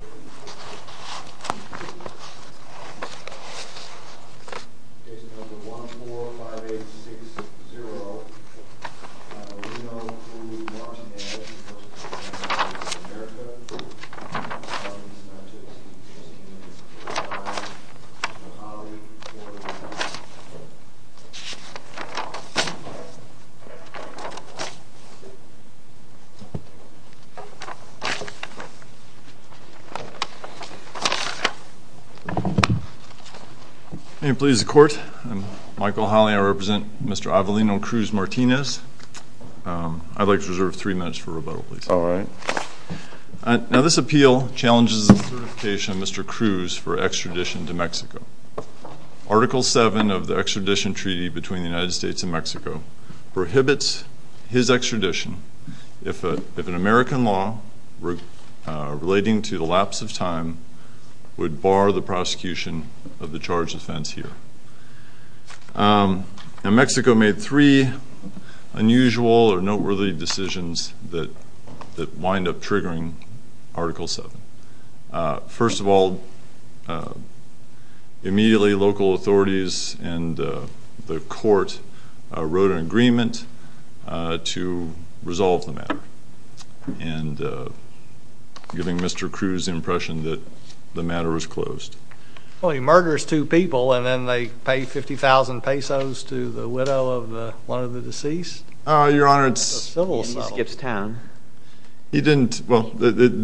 Case number 145860, Reno, Louisiana, United States of America. I represent Mr. Avelino Cruz-Martinez. I'd like to reserve three minutes for rebuttal, please. All right. Now, this appeal challenges the certification of Mr. Cruz for extradition to Mexico. Article 7 of the Extradition Treaty between the United States and Mexico prohibits his extradition if an American law relating to the lapse of time would bar the prosecution of the charged offense here. Now, Mexico made three unusual or noteworthy decisions that wind up triggering Article 7. First of all, immediately local authorities and the court wrote an agreement to resolve the matter, and giving Mr. Cruz the impression that the matter was closed. Well, he murders two people, and then they pay 50,000 pesos to the widow of one of the deceased? Your Honor, it's civil. He skips town. He didn't, well, this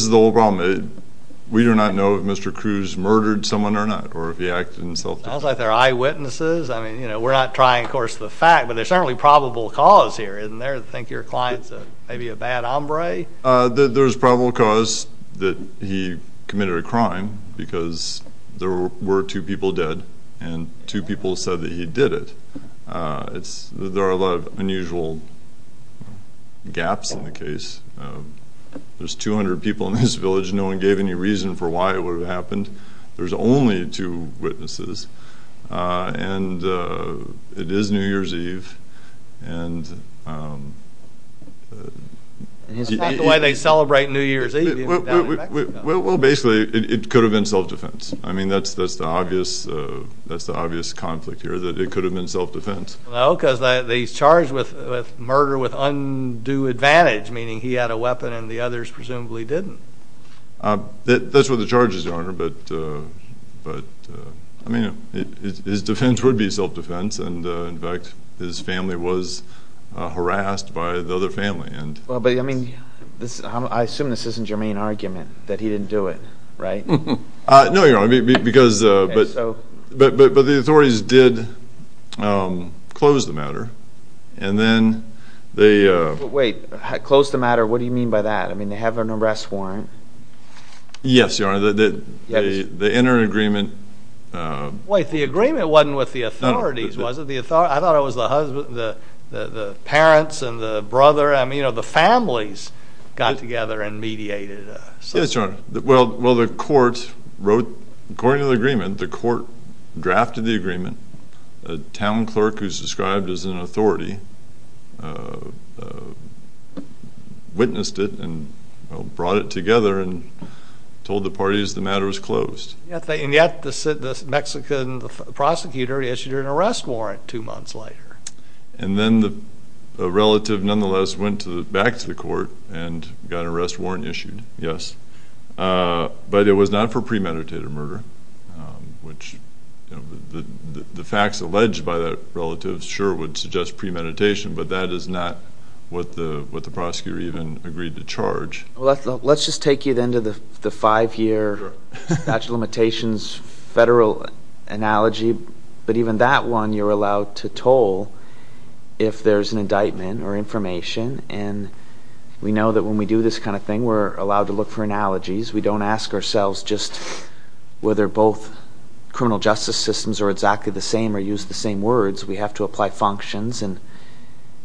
is the whole problem. We do not know if Mr. Cruz murdered someone or not, or if he acted in self-defense. Sounds like they're eyewitnesses. I mean, you know, we're not trying, of course, the fact, but there's certainly probable cause here, isn't there, to think your client's maybe a bad hombre? There's probable cause that he committed a crime because there were two people dead, and two people said that he did it. There are a lot of unusual gaps in the case. There's 200 people in this village, and no one gave any reason for why it would have happened. There's only two witnesses, and it is New Year's Eve. And is that why they celebrate New Year's Eve? Well, basically, it could have been self-defense. I mean, that's the obvious conflict here, that it could have been self-defense. Well, no, because he's charged with murder with undue advantage, meaning he had a weapon and the others presumably didn't. That's what the charge is, Your Honor, but, I mean, his defense would be self-defense, and, in fact, his family was harassed by the other family. Well, but, I mean, I assume this isn't your main argument, that he didn't do it, right? No, Your Honor, but the authorities did close the matter, and then they— Wait, close the matter? What do you mean by that? I mean, they have an arrest warrant. Wait, the agreement wasn't with the authorities, was it? I thought it was the parents and the brother, I mean, the families got together and mediated. Yes, Your Honor. Well, the court wrote, according to the agreement, the court drafted the agreement. A town clerk who's described as an authority witnessed it and brought it together and told the parties the matter was closed. And yet the Mexican prosecutor issued an arrest warrant two months later. And then the relative nonetheless went back to the court and got an arrest warrant issued, yes. But it was not for premeditated murder, which the facts alleged by that relative sure would suggest premeditation, but that is not what the prosecutor even agreed to charge. Well, let's just take you then to the five-year statute of limitations federal analogy. But even that one, you're allowed to toll if there's an indictment or information. And we know that when we do this kind of thing, we're allowed to look for analogies. We don't ask ourselves just whether both criminal justice systems are exactly the same or use the same words. We have to apply functions. And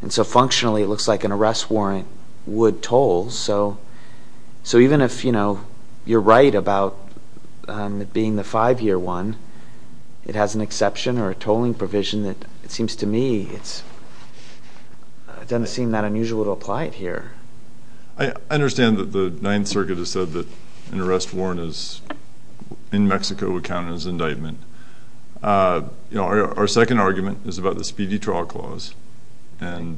so functionally, it looks like an arrest warrant would toll. So even if you're right about it being the five-year one, it has an exception or a tolling provision that, it seems to me, it doesn't seem that unusual to apply it here. I understand that the Ninth Circuit has said that an arrest warrant in Mexico would count as indictment. Our second argument is about the speedy trial clause. And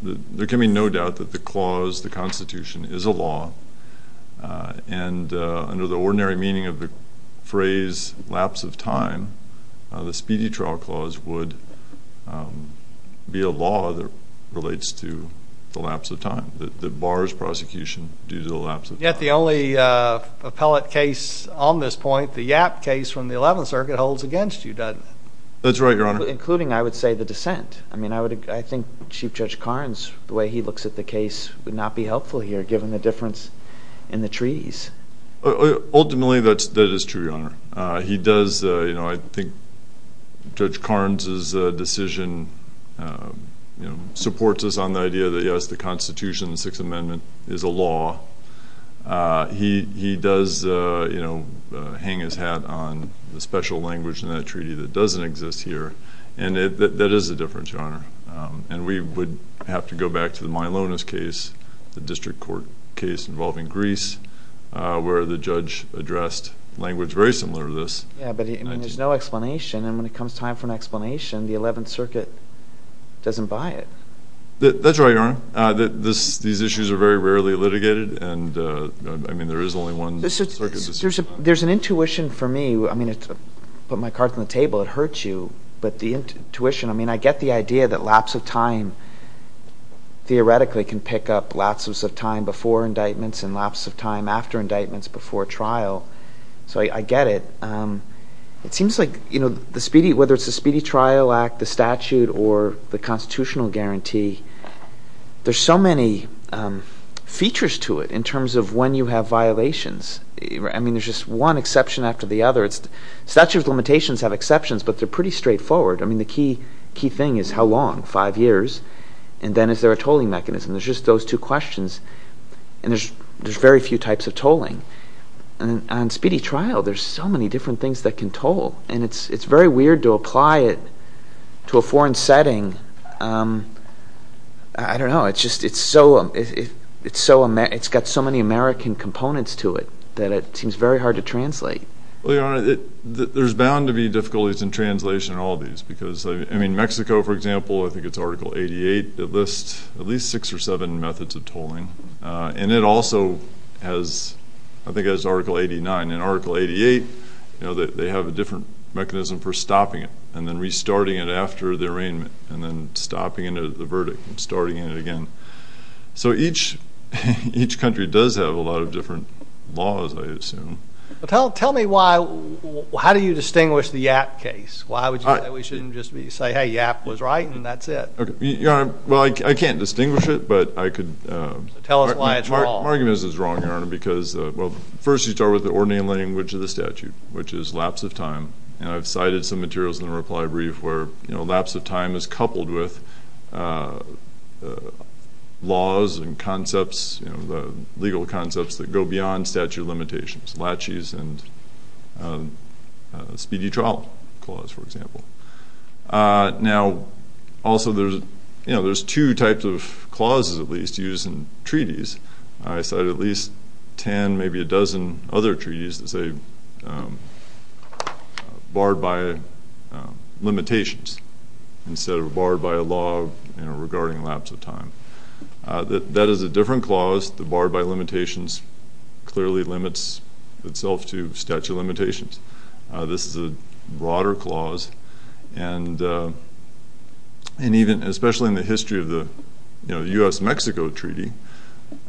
there can be no doubt that the clause, the Constitution, is a law. And under the ordinary meaning of the phrase lapse of time, the speedy trial clause would be a law that relates to the lapse of time, Yet the only appellate case on this point, the Yap case from the Eleventh Circuit, holds against you, doesn't it? That's right, Your Honor. Including, I would say, the dissent. I think Chief Judge Carnes, the way he looks at the case, would not be helpful here given the difference in the treaties. Ultimately, that is true, Your Honor. I think Judge Carnes's decision supports us on the idea that, yes, the Constitution, the Sixth Amendment, is a law. He does hang his hat on the special language in that treaty that doesn't exist here. And that is a difference, Your Honor. And we would have to go back to the Maillones case, the district court case involving Greece, where the judge addressed language very similar to this. Yeah, but there's no explanation. And when it comes time for an explanation, the Eleventh Circuit doesn't buy it. That's right, Your Honor. These issues are very rarely litigated. And, I mean, there is only one circuit. There's an intuition for me. I mean, to put my cards on the table, it hurts you. But the intuition, I mean, I get the idea that lapse of time, theoretically, can pick up lapses of time before indictments and lapses of time after indictments before trial. So I get it. It seems like, you know, whether it's the Speedy Trial Act, the statute, or the constitutional guarantee, there's so many features to it in terms of when you have violations. I mean, there's just one exception after the other. Statute of limitations have exceptions, but they're pretty straightforward. I mean, the key thing is how long, five years? And then is there a tolling mechanism? There's just those two questions, and there's very few types of tolling. And on speedy trial, there's so many different things that can toll. And it's very weird to apply it to a foreign setting. I don't know. It's got so many American components to it that it seems very hard to translate. Well, Your Honor, there's bound to be difficulties in translation in all of these. Because, I mean, Mexico, for example, I think it's Article 88 that lists at least six or seven methods of tolling. And it also has, I think it has Article 89. And Article 88, you know, they have a different mechanism for stopping it and then restarting it after the arraignment and then stopping it at the verdict and starting it again. So each country does have a lot of different laws, I assume. Tell me why. How do you distinguish the YAT case? Why shouldn't we just say, hey, Yap was right and that's it? Your Honor, well, I can't distinguish it, but I could. Tell us why at all. My argument is it's wrong, Your Honor, because, well, first you start with the ordinary language of the statute, which is lapse of time. And I've cited some materials in the reply brief where lapse of time is coupled with laws and concepts, you know, the legal concepts that go beyond statute of limitations, laches and speedy trial clause, for example. Now, also there's, you know, there's two types of clauses at least used in treaties. I cited at least ten, maybe a dozen other treaties that say barred by limitations instead of barred by a law regarding lapse of time. That is a different clause. The barred by limitations clearly limits itself to statute of limitations. This is a broader clause. And even especially in the history of the U.S.-Mexico treaty,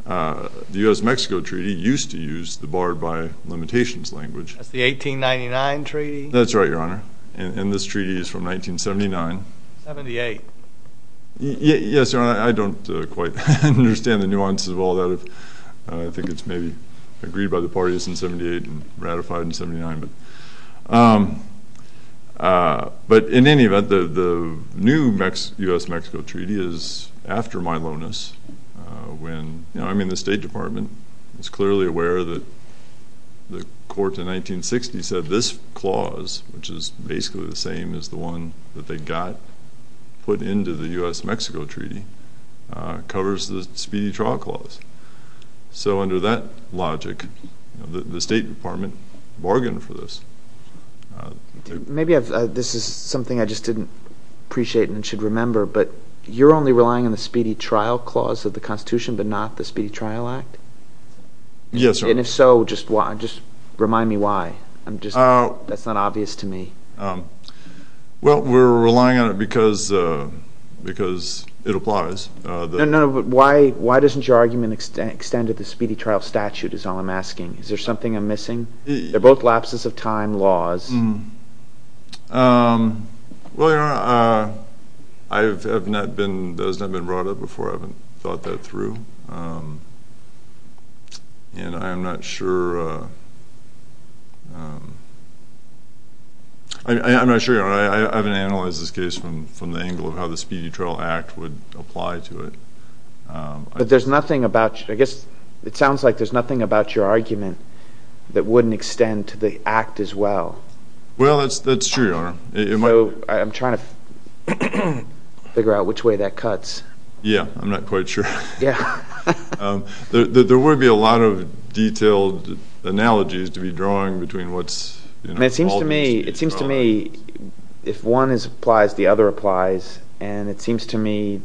the U.S.-Mexico treaty used to use the barred by limitations language. That's the 1899 treaty? That's right, Your Honor. And this treaty is from 1979. 78. Yes, Your Honor, I don't quite understand the nuances of all that. I think it's maybe agreed by the parties in 78 and ratified in 79. But in any event, the new U.S.-Mexico treaty is after Milonis when, you know, I'm in the State Department. It's clearly aware that the court in 1960 said this clause, which is basically the same as the one that they got put into the U.S.-Mexico treaty, covers the speedy trial clause. So under that logic, the State Department bargained for this. Maybe this is something I just didn't appreciate and should remember, but you're only relying on the speedy trial clause of the Constitution but not the Speedy Trial Act? Yes, Your Honor. And if so, just remind me why. That's not obvious to me. Well, we're relying on it because it applies. No, no, but why doesn't your argument extend to the speedy trial statute is all I'm asking. Is there something I'm missing? They're both lapses of time laws. Well, Your Honor, that has not been brought up before. I haven't thought that through. And I'm not sure, Your Honor, I haven't analyzed this case from the angle of how the Speedy Trial Act would apply to it. But there's nothing about, I guess it sounds like there's nothing about your argument that wouldn't extend to the Act as well. Well, that's true, Your Honor. So I'm trying to figure out which way that cuts. Yeah, I'm not quite sure. There wouldn't be a lot of detailed analogies to be drawn between what's called the speedy trial act. It seems to me if one applies, the other applies. And it seems to me,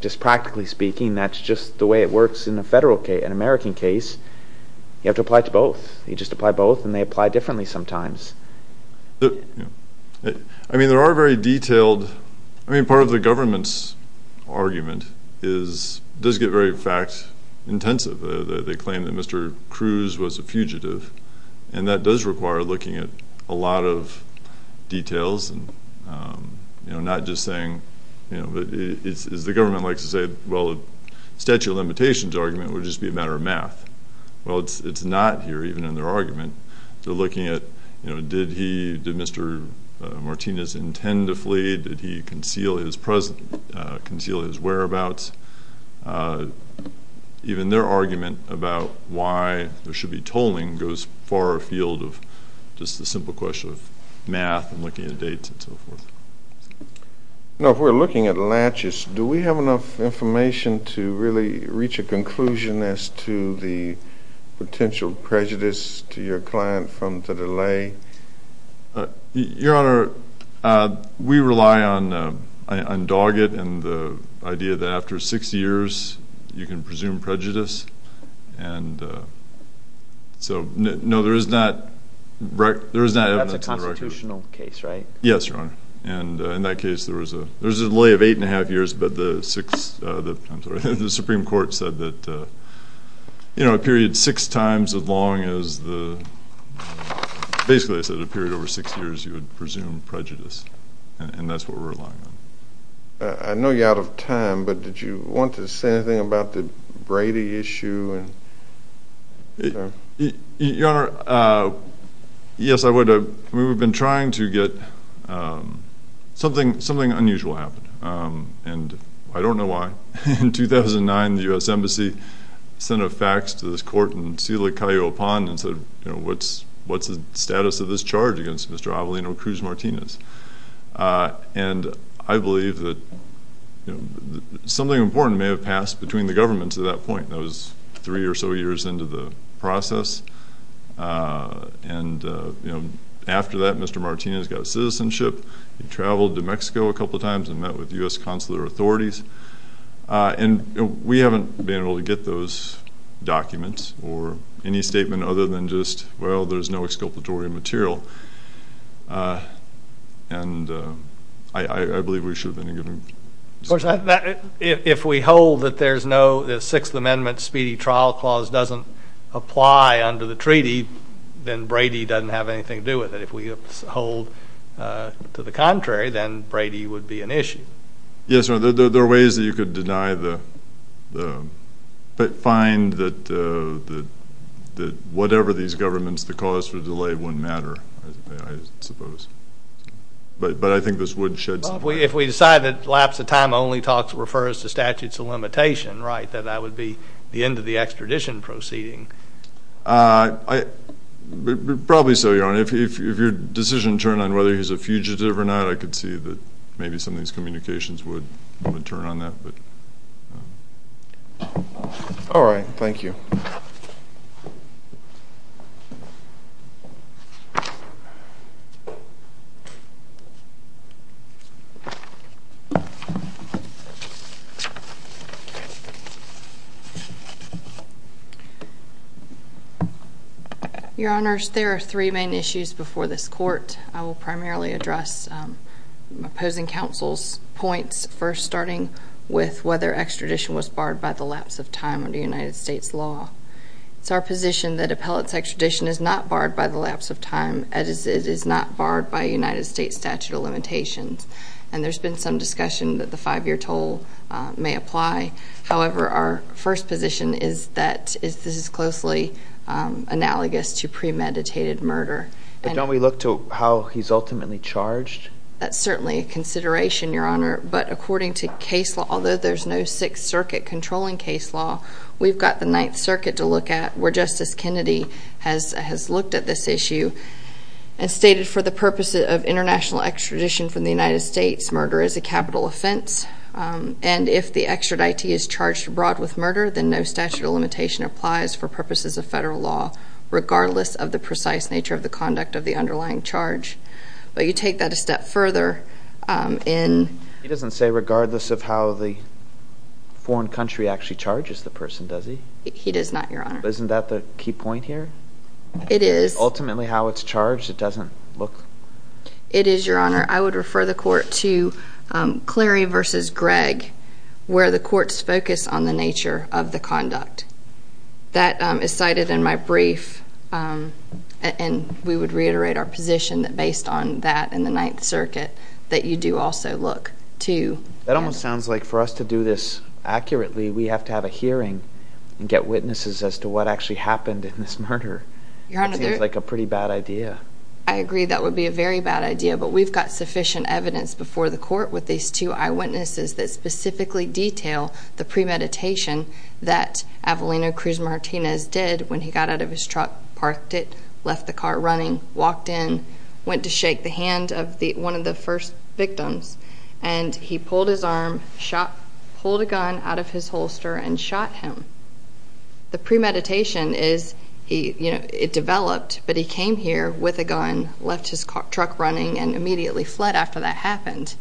just practically speaking, that's just the way it works in a federal case, an American case. You have to apply to both. You just apply both, and they apply differently sometimes. I mean, there are very detailed. I mean, part of the government's argument does get very, in fact, intensive. They claim that Mr. Cruz was a fugitive. And that does require looking at a lot of details and not just saying, you know, as the government likes to say, well, the statute of limitations argument would just be a matter of math. Well, it's not here, even in their argument. They're looking at, you know, did Mr. Martinez intend to flee? Did he conceal his whereabouts? Even their argument about why there should be tolling goes far afield of just the simple question of math and looking at dates and so forth. Now, if we're looking at latches, do we have enough information to really reach a conclusion as to the potential prejudice to your client from the delay? Your Honor, we rely on Doggett and the idea that after six years you can presume prejudice. And so, no, there is not evidence to the record. That's a constitutional case, right? Yes, Your Honor. And in that case, there was a delay of eight and a half years, but the Supreme Court said that, you know, a period six times as long as the, basically they said a period over six years you would presume prejudice. And that's what we're relying on. I know you're out of time, but did you want to say anything about the Brady issue? Your Honor, yes, I would. We've been trying to get something unusual happen, and I don't know why. In 2009, the U.S. Embassy sent a fax to this court in Silicayo Pond and said, you know, what's the status of this charge against Mr. Avelino Cruz Martinez? And I believe that something important may have passed between the governments at that point. That was three or so years into the process. And, you know, after that, Mr. Martinez got a citizenship. He traveled to Mexico a couple times and met with U.S. consular authorities. And we haven't been able to get those documents or any statement other than just, well, there's no exculpatory material. Of course, if we hold that the Sixth Amendment speedy trial clause doesn't apply under the treaty, then Brady doesn't have anything to do with it. If we hold to the contrary, then Brady would be an issue. Yes, Your Honor, there are ways that you could find that whatever these governments, the cause for delay wouldn't matter, I suppose. But I think this would shed some light. If we decide that lapse of time only refers to statutes of limitation, right, that that would be the end of the extradition proceeding. Probably so, Your Honor. If your decision turned on whether he's a fugitive or not, I could see that maybe some of these communications would turn on that. All right. Thank you. Your Honors, there are three main issues before this court. I will primarily address opposing counsel's points, first starting with whether extradition was barred by the lapse of time under United States law. It's our position that appellate's extradition is not barred by the lapse of time, as it is not barred by United States statute of limitations. And there's been some discussion that the five-year toll may apply. However, our first position is that this is closely analogous to premeditated murder. But don't we look to how he's ultimately charged? That's certainly a consideration, Your Honor. But according to case law, although there's no Sixth Circuit controlling case law, we've got the Ninth Circuit to look at where Justice Kennedy has looked at this issue and stated for the purposes of international extradition from the United States, murder is a capital offense. And if the extraditee is charged abroad with murder, then no statute of limitation applies for purposes of federal law, regardless of the precise nature of the conduct of the underlying charge. But you take that a step further in... He doesn't say regardless of how the foreign country actually charges the person, does he? He does not, Your Honor. Isn't that the key point here? It is. Ultimately how it's charged, it doesn't look... It is, Your Honor. I would refer the court to Cleary v. Gregg, where the courts focus on the nature of the conduct. That is cited in my brief. And we would reiterate our position that based on that and the Ninth Circuit that you do also look to... That almost sounds like for us to do this accurately, we have to have a hearing and get witnesses as to what actually happened in this murder. It seems like a pretty bad idea. I agree that would be a very bad idea, but we've got sufficient evidence before the court with these two eyewitnesses that specifically detail the premeditation that Avelino Cruz Martinez did when he got out of his truck, parked it, left the car running, walked in, went to shake the hand of one of the first victims, and he pulled his arm, pulled a gun out of his holster, and shot him. The premeditation is it developed, but he came here with a gun, left his truck running, and immediately fled after that happened.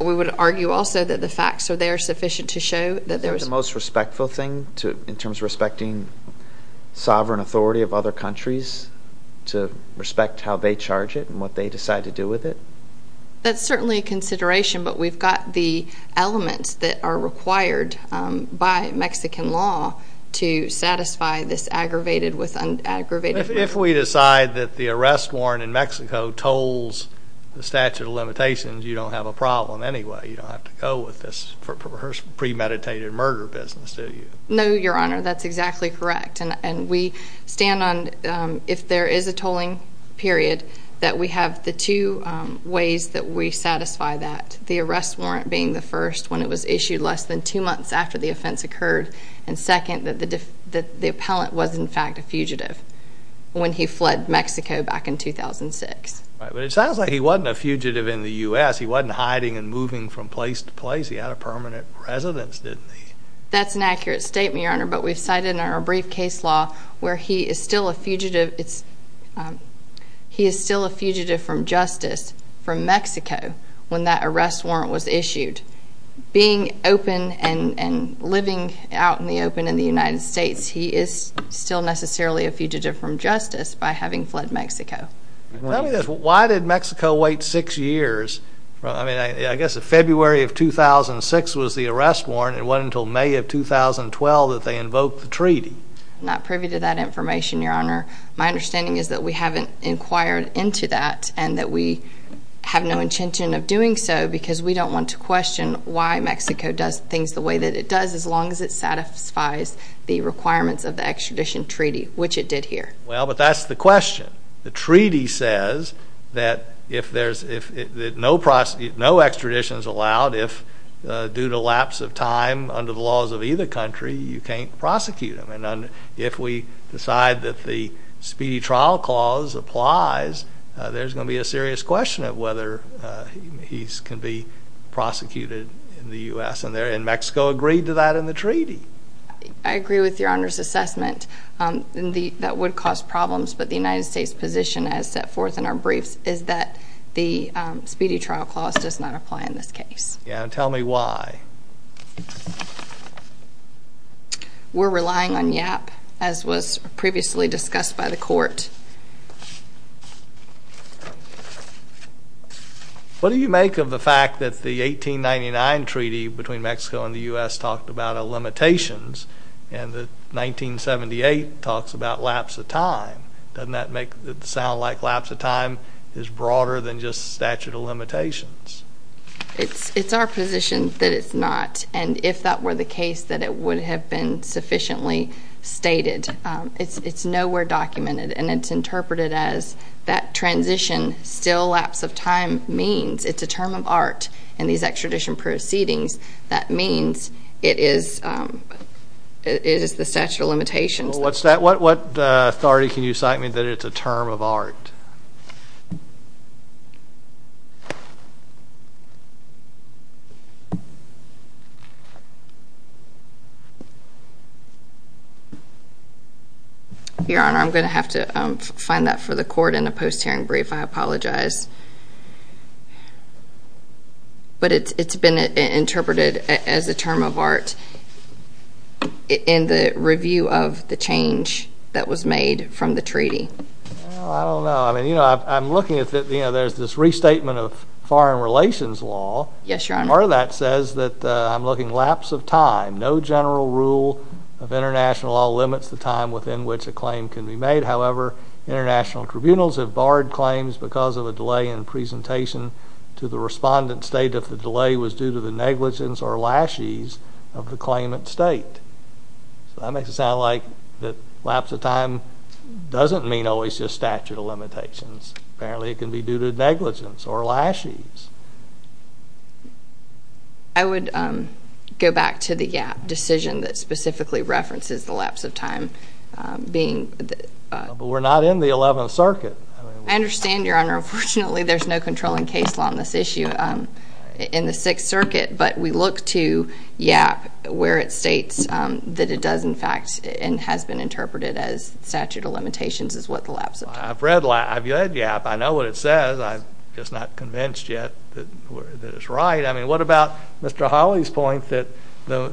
We would argue also that the facts are there sufficient to show that there was... Isn't it the most respectful thing in terms of respecting sovereign authority of other countries to respect how they charge it and what they decide to do with it? That's certainly a consideration, but we've got the elements that are required by Mexican law to satisfy this aggravated with an aggravated... If we decide that the arrest warrant in Mexico tolls the statute of limitations, you don't have a problem anyway. You don't have to go with this premeditated murder business, do you? No, Your Honor, that's exactly correct, and we stand on if there is a tolling period that we have the two ways that we satisfy that, the arrest warrant being the first when it was issued less than two months after the offense occurred, and second that the appellant was in fact a fugitive when he fled Mexico back in 2006. Right, but it sounds like he wasn't a fugitive in the U.S. He wasn't hiding and moving from place to place. He had a permanent residence, didn't he? That's an accurate statement, Your Honor, but we've cited in our brief case law where he is still a fugitive. He is still a fugitive from justice from Mexico when that arrest warrant was issued. Being open and living out in the open in the United States, he is still necessarily a fugitive from justice by having fled Mexico. Tell me this. Why did Mexico wait six years? I mean, I guess if February of 2006 was the arrest warrant, it wasn't until May of 2012 that they invoked the treaty. I'm not privy to that information, Your Honor. My understanding is that we haven't inquired into that and that we have no intention of doing so because we don't want to question why Mexico does things the way that it does as long as it satisfies the requirements of the extradition treaty, which it did here. Well, but that's the question. The treaty says that no extradition is allowed if due to lapse of time under the laws of either country you can't prosecute them. If we decide that the Speedy Trial Clause applies, there's going to be a serious question of whether he can be prosecuted in the U.S. and Mexico agreed to that in the treaty. I agree with Your Honor's assessment. That would cause problems, but the United States' position as set forth in our briefs is that the Speedy Trial Clause does not apply in this case. Tell me why. We're relying on YAP, as was previously discussed by the court. What do you make of the fact that the 1899 treaty between Mexico and the U.S. talked about limitations and that 1978 talks about lapse of time? Doesn't that make it sound like lapse of time is broader than just statute of limitations? It's our position that it's not, and if that were the case that it would have been sufficiently stated. It's nowhere documented, and it's interpreted as that transition still lapse of time means it's a term of art in these extradition proceedings. That means it is the statute of limitations. What authority can you cite me that it's a term of art? Your Honor, I'm going to have to find that for the court in a post-hearing brief. I apologize. But it's been interpreted as a term of art in the review of the change that was made from the treaty. I don't know. I'm looking at this restatement of foreign relations law. Yes, Your Honor. Part of that says that I'm looking at lapse of time. No general rule of international law limits the time within which a claim can be made. However, international tribunals have barred claims because of a delay in presentation to the respondent's state if the delay was due to the negligence or lashes of the claimant's state. That makes it sound like that lapse of time doesn't mean always just statute of limitations. Apparently, it can be due to negligence or lashes. I would go back to the decision that specifically references the lapse of time But we're not in the Eleventh Circuit. I understand, Your Honor. Unfortunately, there's no controlling case law on this issue in the Sixth Circuit, but we look to YAP where it states that it does, in fact, and has been interpreted as statute of limitations is what the lapse of time is. I've read YAP. I know what it says. I'm just not convinced yet that it's right. I mean, what about Mr. Hawley's point that the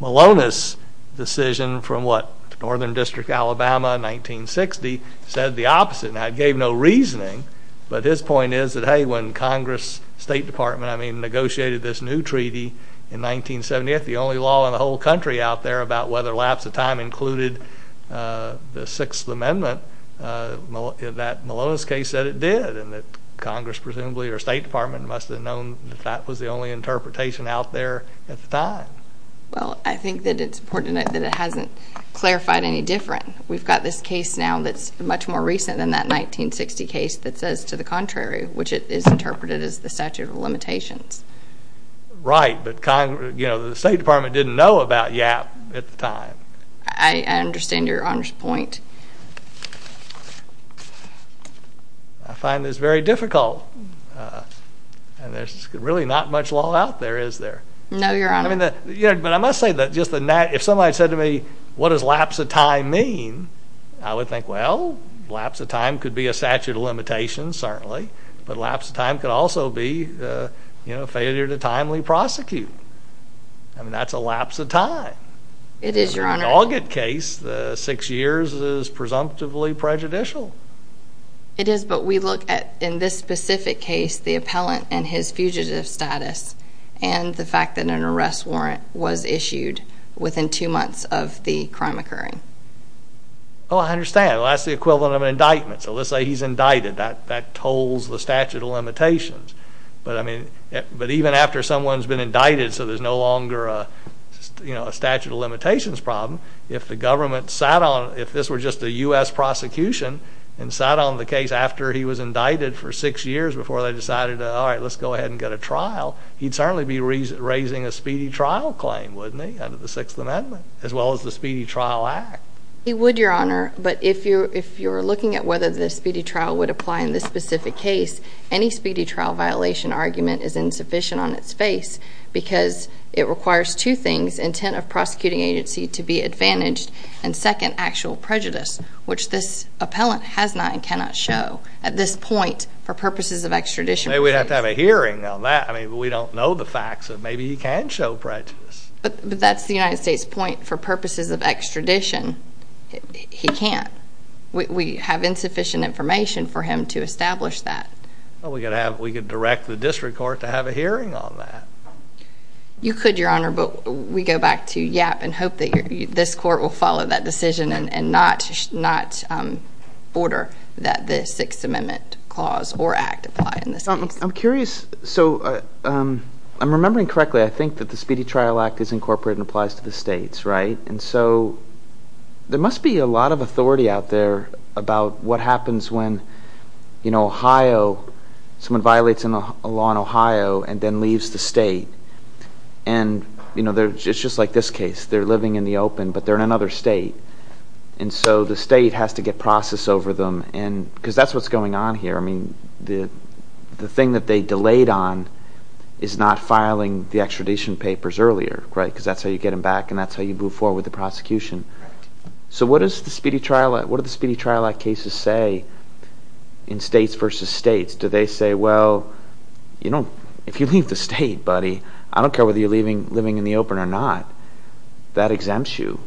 Malonis decision from, what, Northern District, Alabama in 1960 said the opposite and gave no reasoning, but his point is that, hey, when Congress, State Department, I mean, negotiated this new treaty in 1978, the only law in the whole country out there about whether lapse of time included the Sixth Amendment, that Malonis case said it did, and that Congress, presumably, or State Department must have known that that was the only interpretation out there at the time. Well, I think that it's important that it hasn't clarified any different. We've got this case now that's much more recent than that 1960 case that says to the contrary, which is interpreted as the statute of limitations. Right, but the State Department didn't know about YAP at the time. I understand Your Honor's point. I find this very difficult, and there's really not much law out there, is there? No, Your Honor. But I must say that if somebody said to me, what does lapse of time mean? I would think, well, lapse of time could be a statute of limitations, certainly, but lapse of time could also be failure to timely prosecute. I mean, that's a lapse of time. It is, Your Honor. In the Naugat case, six years is presumptively prejudicial. It is, but we look at, in this specific case, the appellant and his fugitive status and the fact that an arrest warrant was issued within two months of the crime occurring. Oh, I understand. Well, that's the equivalent of an indictment. So let's say he's indicted. That tolls the statute of limitations. But even after someone's been indicted, so there's no longer a statute of limitations problem, if the government sat on it, if this were just a U.S. prosecution and sat on the case after he was indicted for six years before they decided, all right, let's go ahead and get a trial, he'd certainly be raising a speedy trial claim, wouldn't he, under the Sixth Amendment, as well as the Speedy Trial Act. He would, Your Honor, but if you're looking at whether the speedy trial would apply in this specific case, any speedy trial violation argument is insufficient on its face because it requires two things, intent of prosecuting agency to be advantaged, and second, actual prejudice, which this appellant has not and cannot show at this point for purposes of extradition. Maybe we'd have to have a hearing on that. I mean, we don't know the facts, so maybe he can show prejudice. But that's the United States' point. For purposes of extradition, he can't. We have insufficient information for him to establish that. Well, we could direct the district court to have a hearing on that. You could, Your Honor, but we go back to YAP and hope that this court will follow that decision and not order that the Sixth Amendment clause or act apply in this case. I'm curious. So I'm remembering correctly, I think that the Speedy Trial Act is incorporated and applies to the states, right? And so there must be a lot of authority out there about what happens when, you know, Ohio, someone violates a law in Ohio and then leaves the state. And, you know, it's just like this case. They're living in the open, but they're in another state. And so the state has to get process over them because that's what's going on here. I mean, the thing that they delayed on is not filing the extradition papers earlier, right? Because that's how you get them back and that's how you move forward with the prosecution. So what does the Speedy Trial Act cases say in states versus states? Do they say, well, you know, if you leave the state, buddy, I don't care whether you're living in the open or not. That exempts you.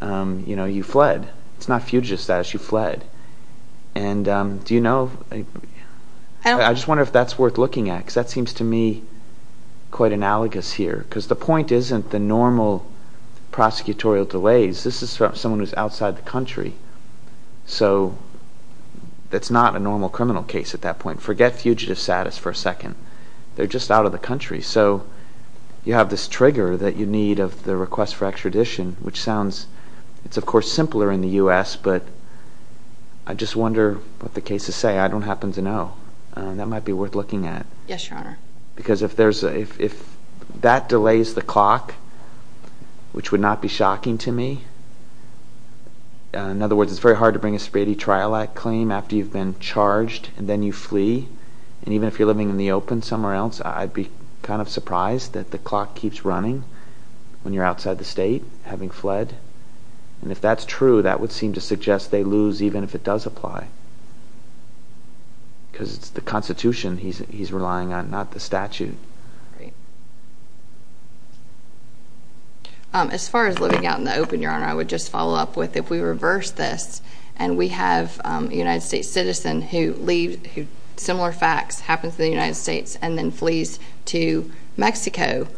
You know, you fled. It's not fugitive status. You fled. And do you know? I just wonder if that's worth looking at because that seems to me quite analogous here because the point isn't the normal prosecutorial delays. This is someone who's outside the country. So that's not a normal criminal case at that point. Forget fugitive status for a second. They're just out of the country. So you have this trigger that you need of the request for extradition, which sounds – it's, of course, simpler in the U.S., but I just wonder what the cases say. I don't happen to know. That might be worth looking at. Yes, Your Honor. Because if there's a – if that delays the clock, which would not be shocking to me – in other words, it's very hard to bring a speedy trial claim after you've been charged and then you flee. And even if you're living in the open somewhere else, I'd be kind of surprised that the clock keeps running when you're outside the state having fled. And if that's true, that would seem to suggest they lose even if it does apply because it's the Constitution he's relying on, not the statute. Great. As far as living out in the open, Your Honor, I would just follow up with if we reverse this and we have a United States citizen who leaves – similar facts – happens in the United States and then flees to Mexico,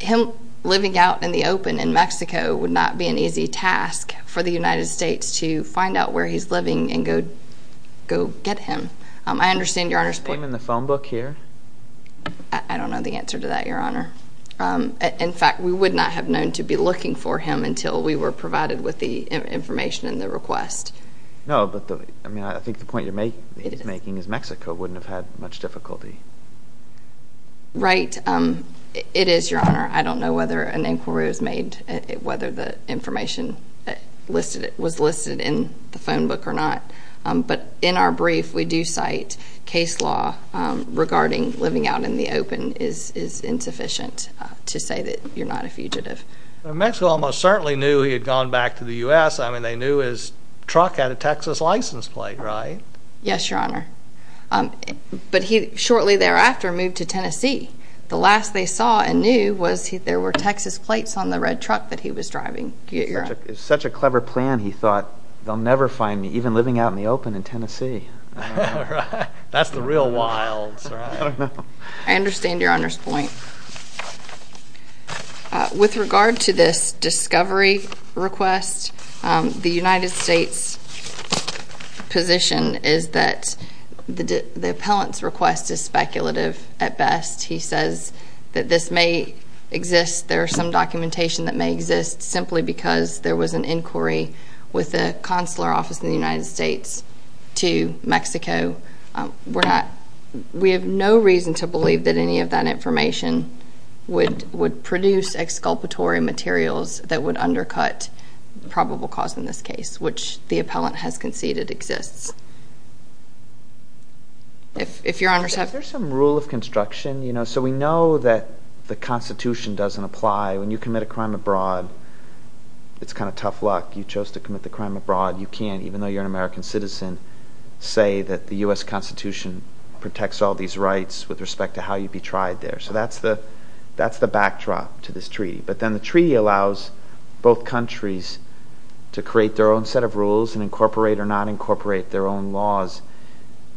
him living out in the open in Mexico would not be an easy task for the United States to find out where he's living and go get him. I understand Your Honor's point. Can you explain in the phone book here? I don't know the answer to that, Your Honor. In fact, we would not have known to be looking for him until we were provided with the information and the request. No, but the – I mean, I think the point you're making is Mexico wouldn't have had much difficulty. Right. It is, Your Honor. I don't know whether an inquiry was made, whether the information was listed in the phone book or not. But in our brief, we do cite case law regarding living out in the open is insufficient to say that you're not a fugitive. Mexico almost certainly knew he had gone back to the U.S. I mean, they knew his truck had a Texas license plate, right? Yes, Your Honor. But he shortly thereafter moved to Tennessee. The last they saw and knew was there were Texas plates on the red truck that he was driving. It's such a clever plan, he thought. They'll never find me even living out in the open in Tennessee. That's the real wilds, right? I don't know. I understand Your Honor's point. With regard to this discovery request, the United States position is that the appellant's request is speculative at best. He says that this may exist, there is some documentation that may exist, simply because there was an inquiry with the consular office in the United States to Mexico. We have no reason to believe that any of that information would produce exculpatory materials that would undercut the probable cause in this case, which the appellant has conceded exists. If Your Honor's happy. Is there some rule of construction? So we know that the Constitution doesn't apply. When you commit a crime abroad, it's kind of tough luck. You chose to commit the crime abroad. You can't, even though you're an American citizen, say that the U.S. Constitution protects all these rights with respect to how you'd be tried there. So that's the backdrop to this treaty. But then the treaty allows both countries to create their own set of rules and incorporate or not incorporate their own laws.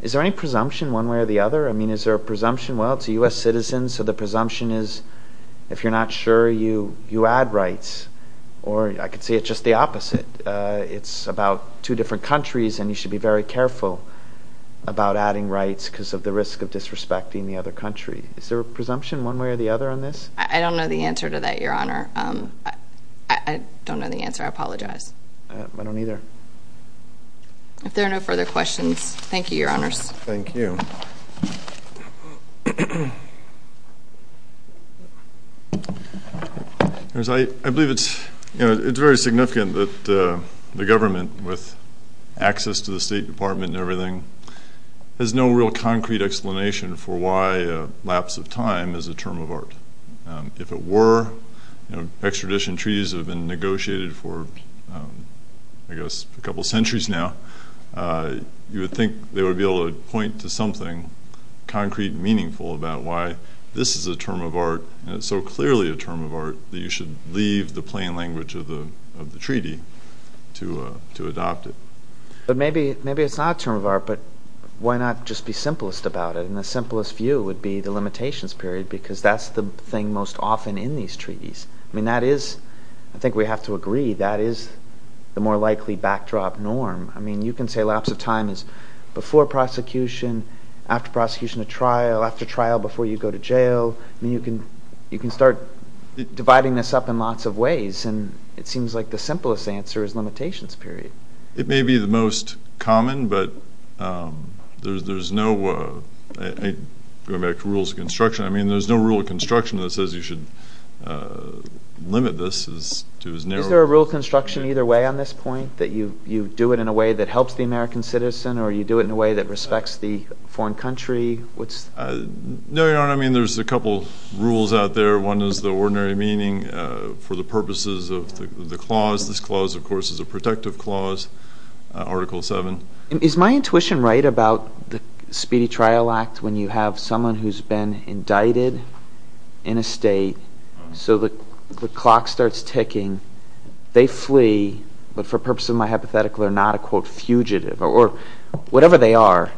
Is there any presumption one way or the other? I mean, is there a presumption? Well, it's a U.S. citizen, so the presumption is if you're not sure, you add rights. Or I could say it's just the opposite. It's about two different countries, and you should be very careful about adding rights because of the risk of disrespecting the other country. Is there a presumption one way or the other on this? I don't know the answer to that, Your Honor. I don't know the answer. I apologize. I don't either. If there are no further questions, thank you, Your Honors. Thank you. I believe it's very significant that the government, with access to the State Department and everything, has no real concrete explanation for why a lapse of time is a term of art. If it were, extradition treaties have been negotiated for, I guess, a couple centuries now. You would think they would be able to point to something concrete and meaningful about why this is a term of art, so clearly a term of art, that you should leave the plain language of the treaty to adopt it. But maybe it's not a term of art, but why not just be simplest about it? And the simplest view would be the limitations period because that's the thing most often in these treaties. I mean, that is, I think we have to agree, that is the more likely backdrop norm. I mean, you can say lapse of time is before prosecution, after prosecution of trial, after trial before you go to jail. I mean, you can start dividing this up in lots of ways, and it seems like the simplest answer is limitations period. It may be the most common, but there's no, going back to rules of construction, I mean, there's no rule of construction that says you should limit this to as narrow as possible. Is there a rule of construction either way on this point, that you do it in a way that helps the American citizen or you do it in a way that respects the foreign country? No, Your Honor, I mean, there's a couple rules out there. One is the ordinary meaning for the purposes of the clause. This clause, of course, is a protective clause, Article 7. Is my intuition right about the Speedy Trial Act when you have someone who's been indicted in a state, so the clock starts ticking, they flee, but for purpose of my hypothetical, they're not a, quote, fugitive, or whatever they are,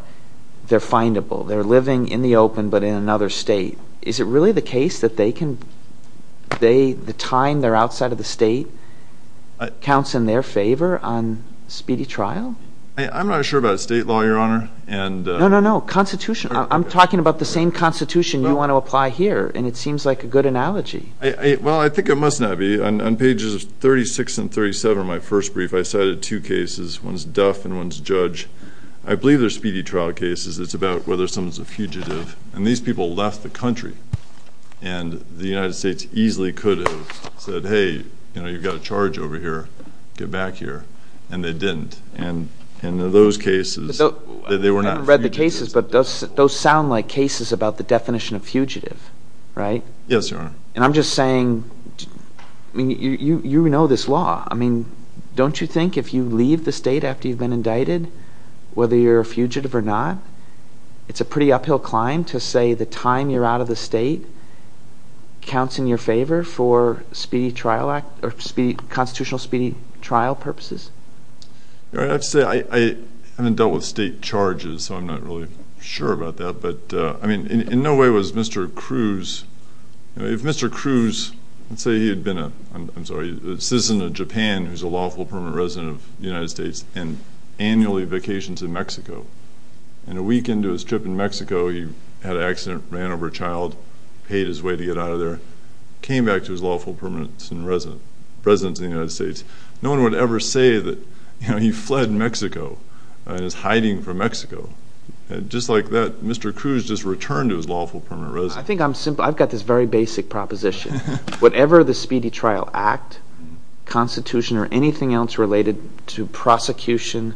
they're findable. They're living in the open but in another state. Is it really the case that they can, the time they're outside of the state counts in their favor on speedy trial? I'm not sure about state law, Your Honor. No, no, no, Constitution. I'm talking about the same Constitution you want to apply here, and it seems like a good analogy. Well, I think it must not be. On pages 36 and 37 of my first brief, I cited two cases, one's Duff and one's Judge. I believe they're speedy trial cases. It's about whether someone's a fugitive, and these people left the country, and the United States easily could have said, hey, you've got a charge over here, get back here, and they didn't. And in those cases, they were not fugitives. Those sound like cases about the definition of fugitive, right? Yes, Your Honor. And I'm just saying, I mean, you know this law. I mean, don't you think if you leave the state after you've been indicted, whether you're a fugitive or not, it's a pretty uphill climb to say the time you're out of the state counts in your favor for constitutional speedy trial purposes? I have to say, I haven't dealt with state charges, so I'm not really sure about that. But, I mean, in no way was Mr. Cruz, you know, if Mr. Cruz, let's say he had been a citizen of Japan who's a lawful permanent resident of the United States and annually vacations in Mexico, and a week into his trip in Mexico he had an accident, ran over a child, paid his way to get out of there, came back to his lawful permanent residence in the United States, no one would ever say that he fled Mexico and is hiding from Mexico. Just like that, Mr. Cruz just returned to his lawful permanent residence. I think I'm simple. I've got this very basic proposition. Whatever the speedy trial act, constitution, or anything else related to prosecution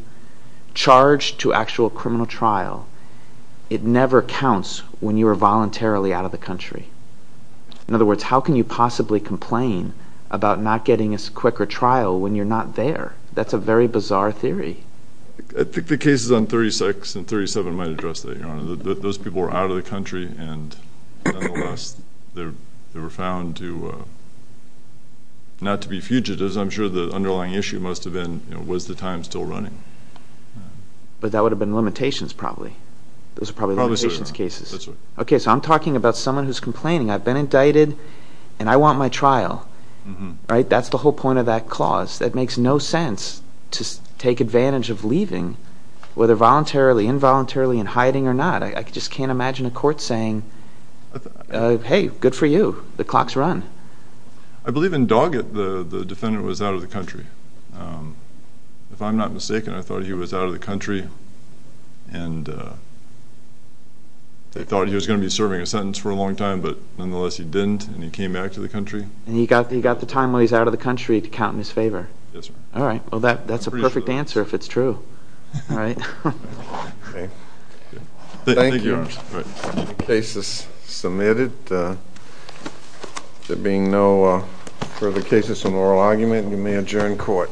charged to actual criminal trial, it never counts when you are voluntarily out of the country. In other words, how can you possibly complain about not getting a quicker trial when you're not there? That's a very bizarre theory. I think the cases on 36 and 37 might address that, Your Honor. Those people were out of the country, and nonetheless they were found not to be fugitives. I'm sure the underlying issue must have been was the time still running. But that would have been limitations probably. Those are probably limitations cases. That's right. Okay, so I'm talking about someone who's complaining. I've been indicted, and I want my trial. That's the whole point of that clause. That makes no sense to take advantage of leaving, whether voluntarily, involuntarily, in hiding or not. I just can't imagine a court saying, hey, good for you. The clock's run. I believe in Doggett the defendant was out of the country. If I'm not mistaken, I thought he was out of the country, and they thought he was going to be serving a sentence for a long time, but nonetheless he didn't, and he came back to the country. And he got the time while he was out of the country to count in his favor. Yes, sir. All right. Well, that's a perfect answer if it's true. Thank you, Your Honor. Thank you. The case is submitted. There being no further cases of moral argument, you may adjourn court.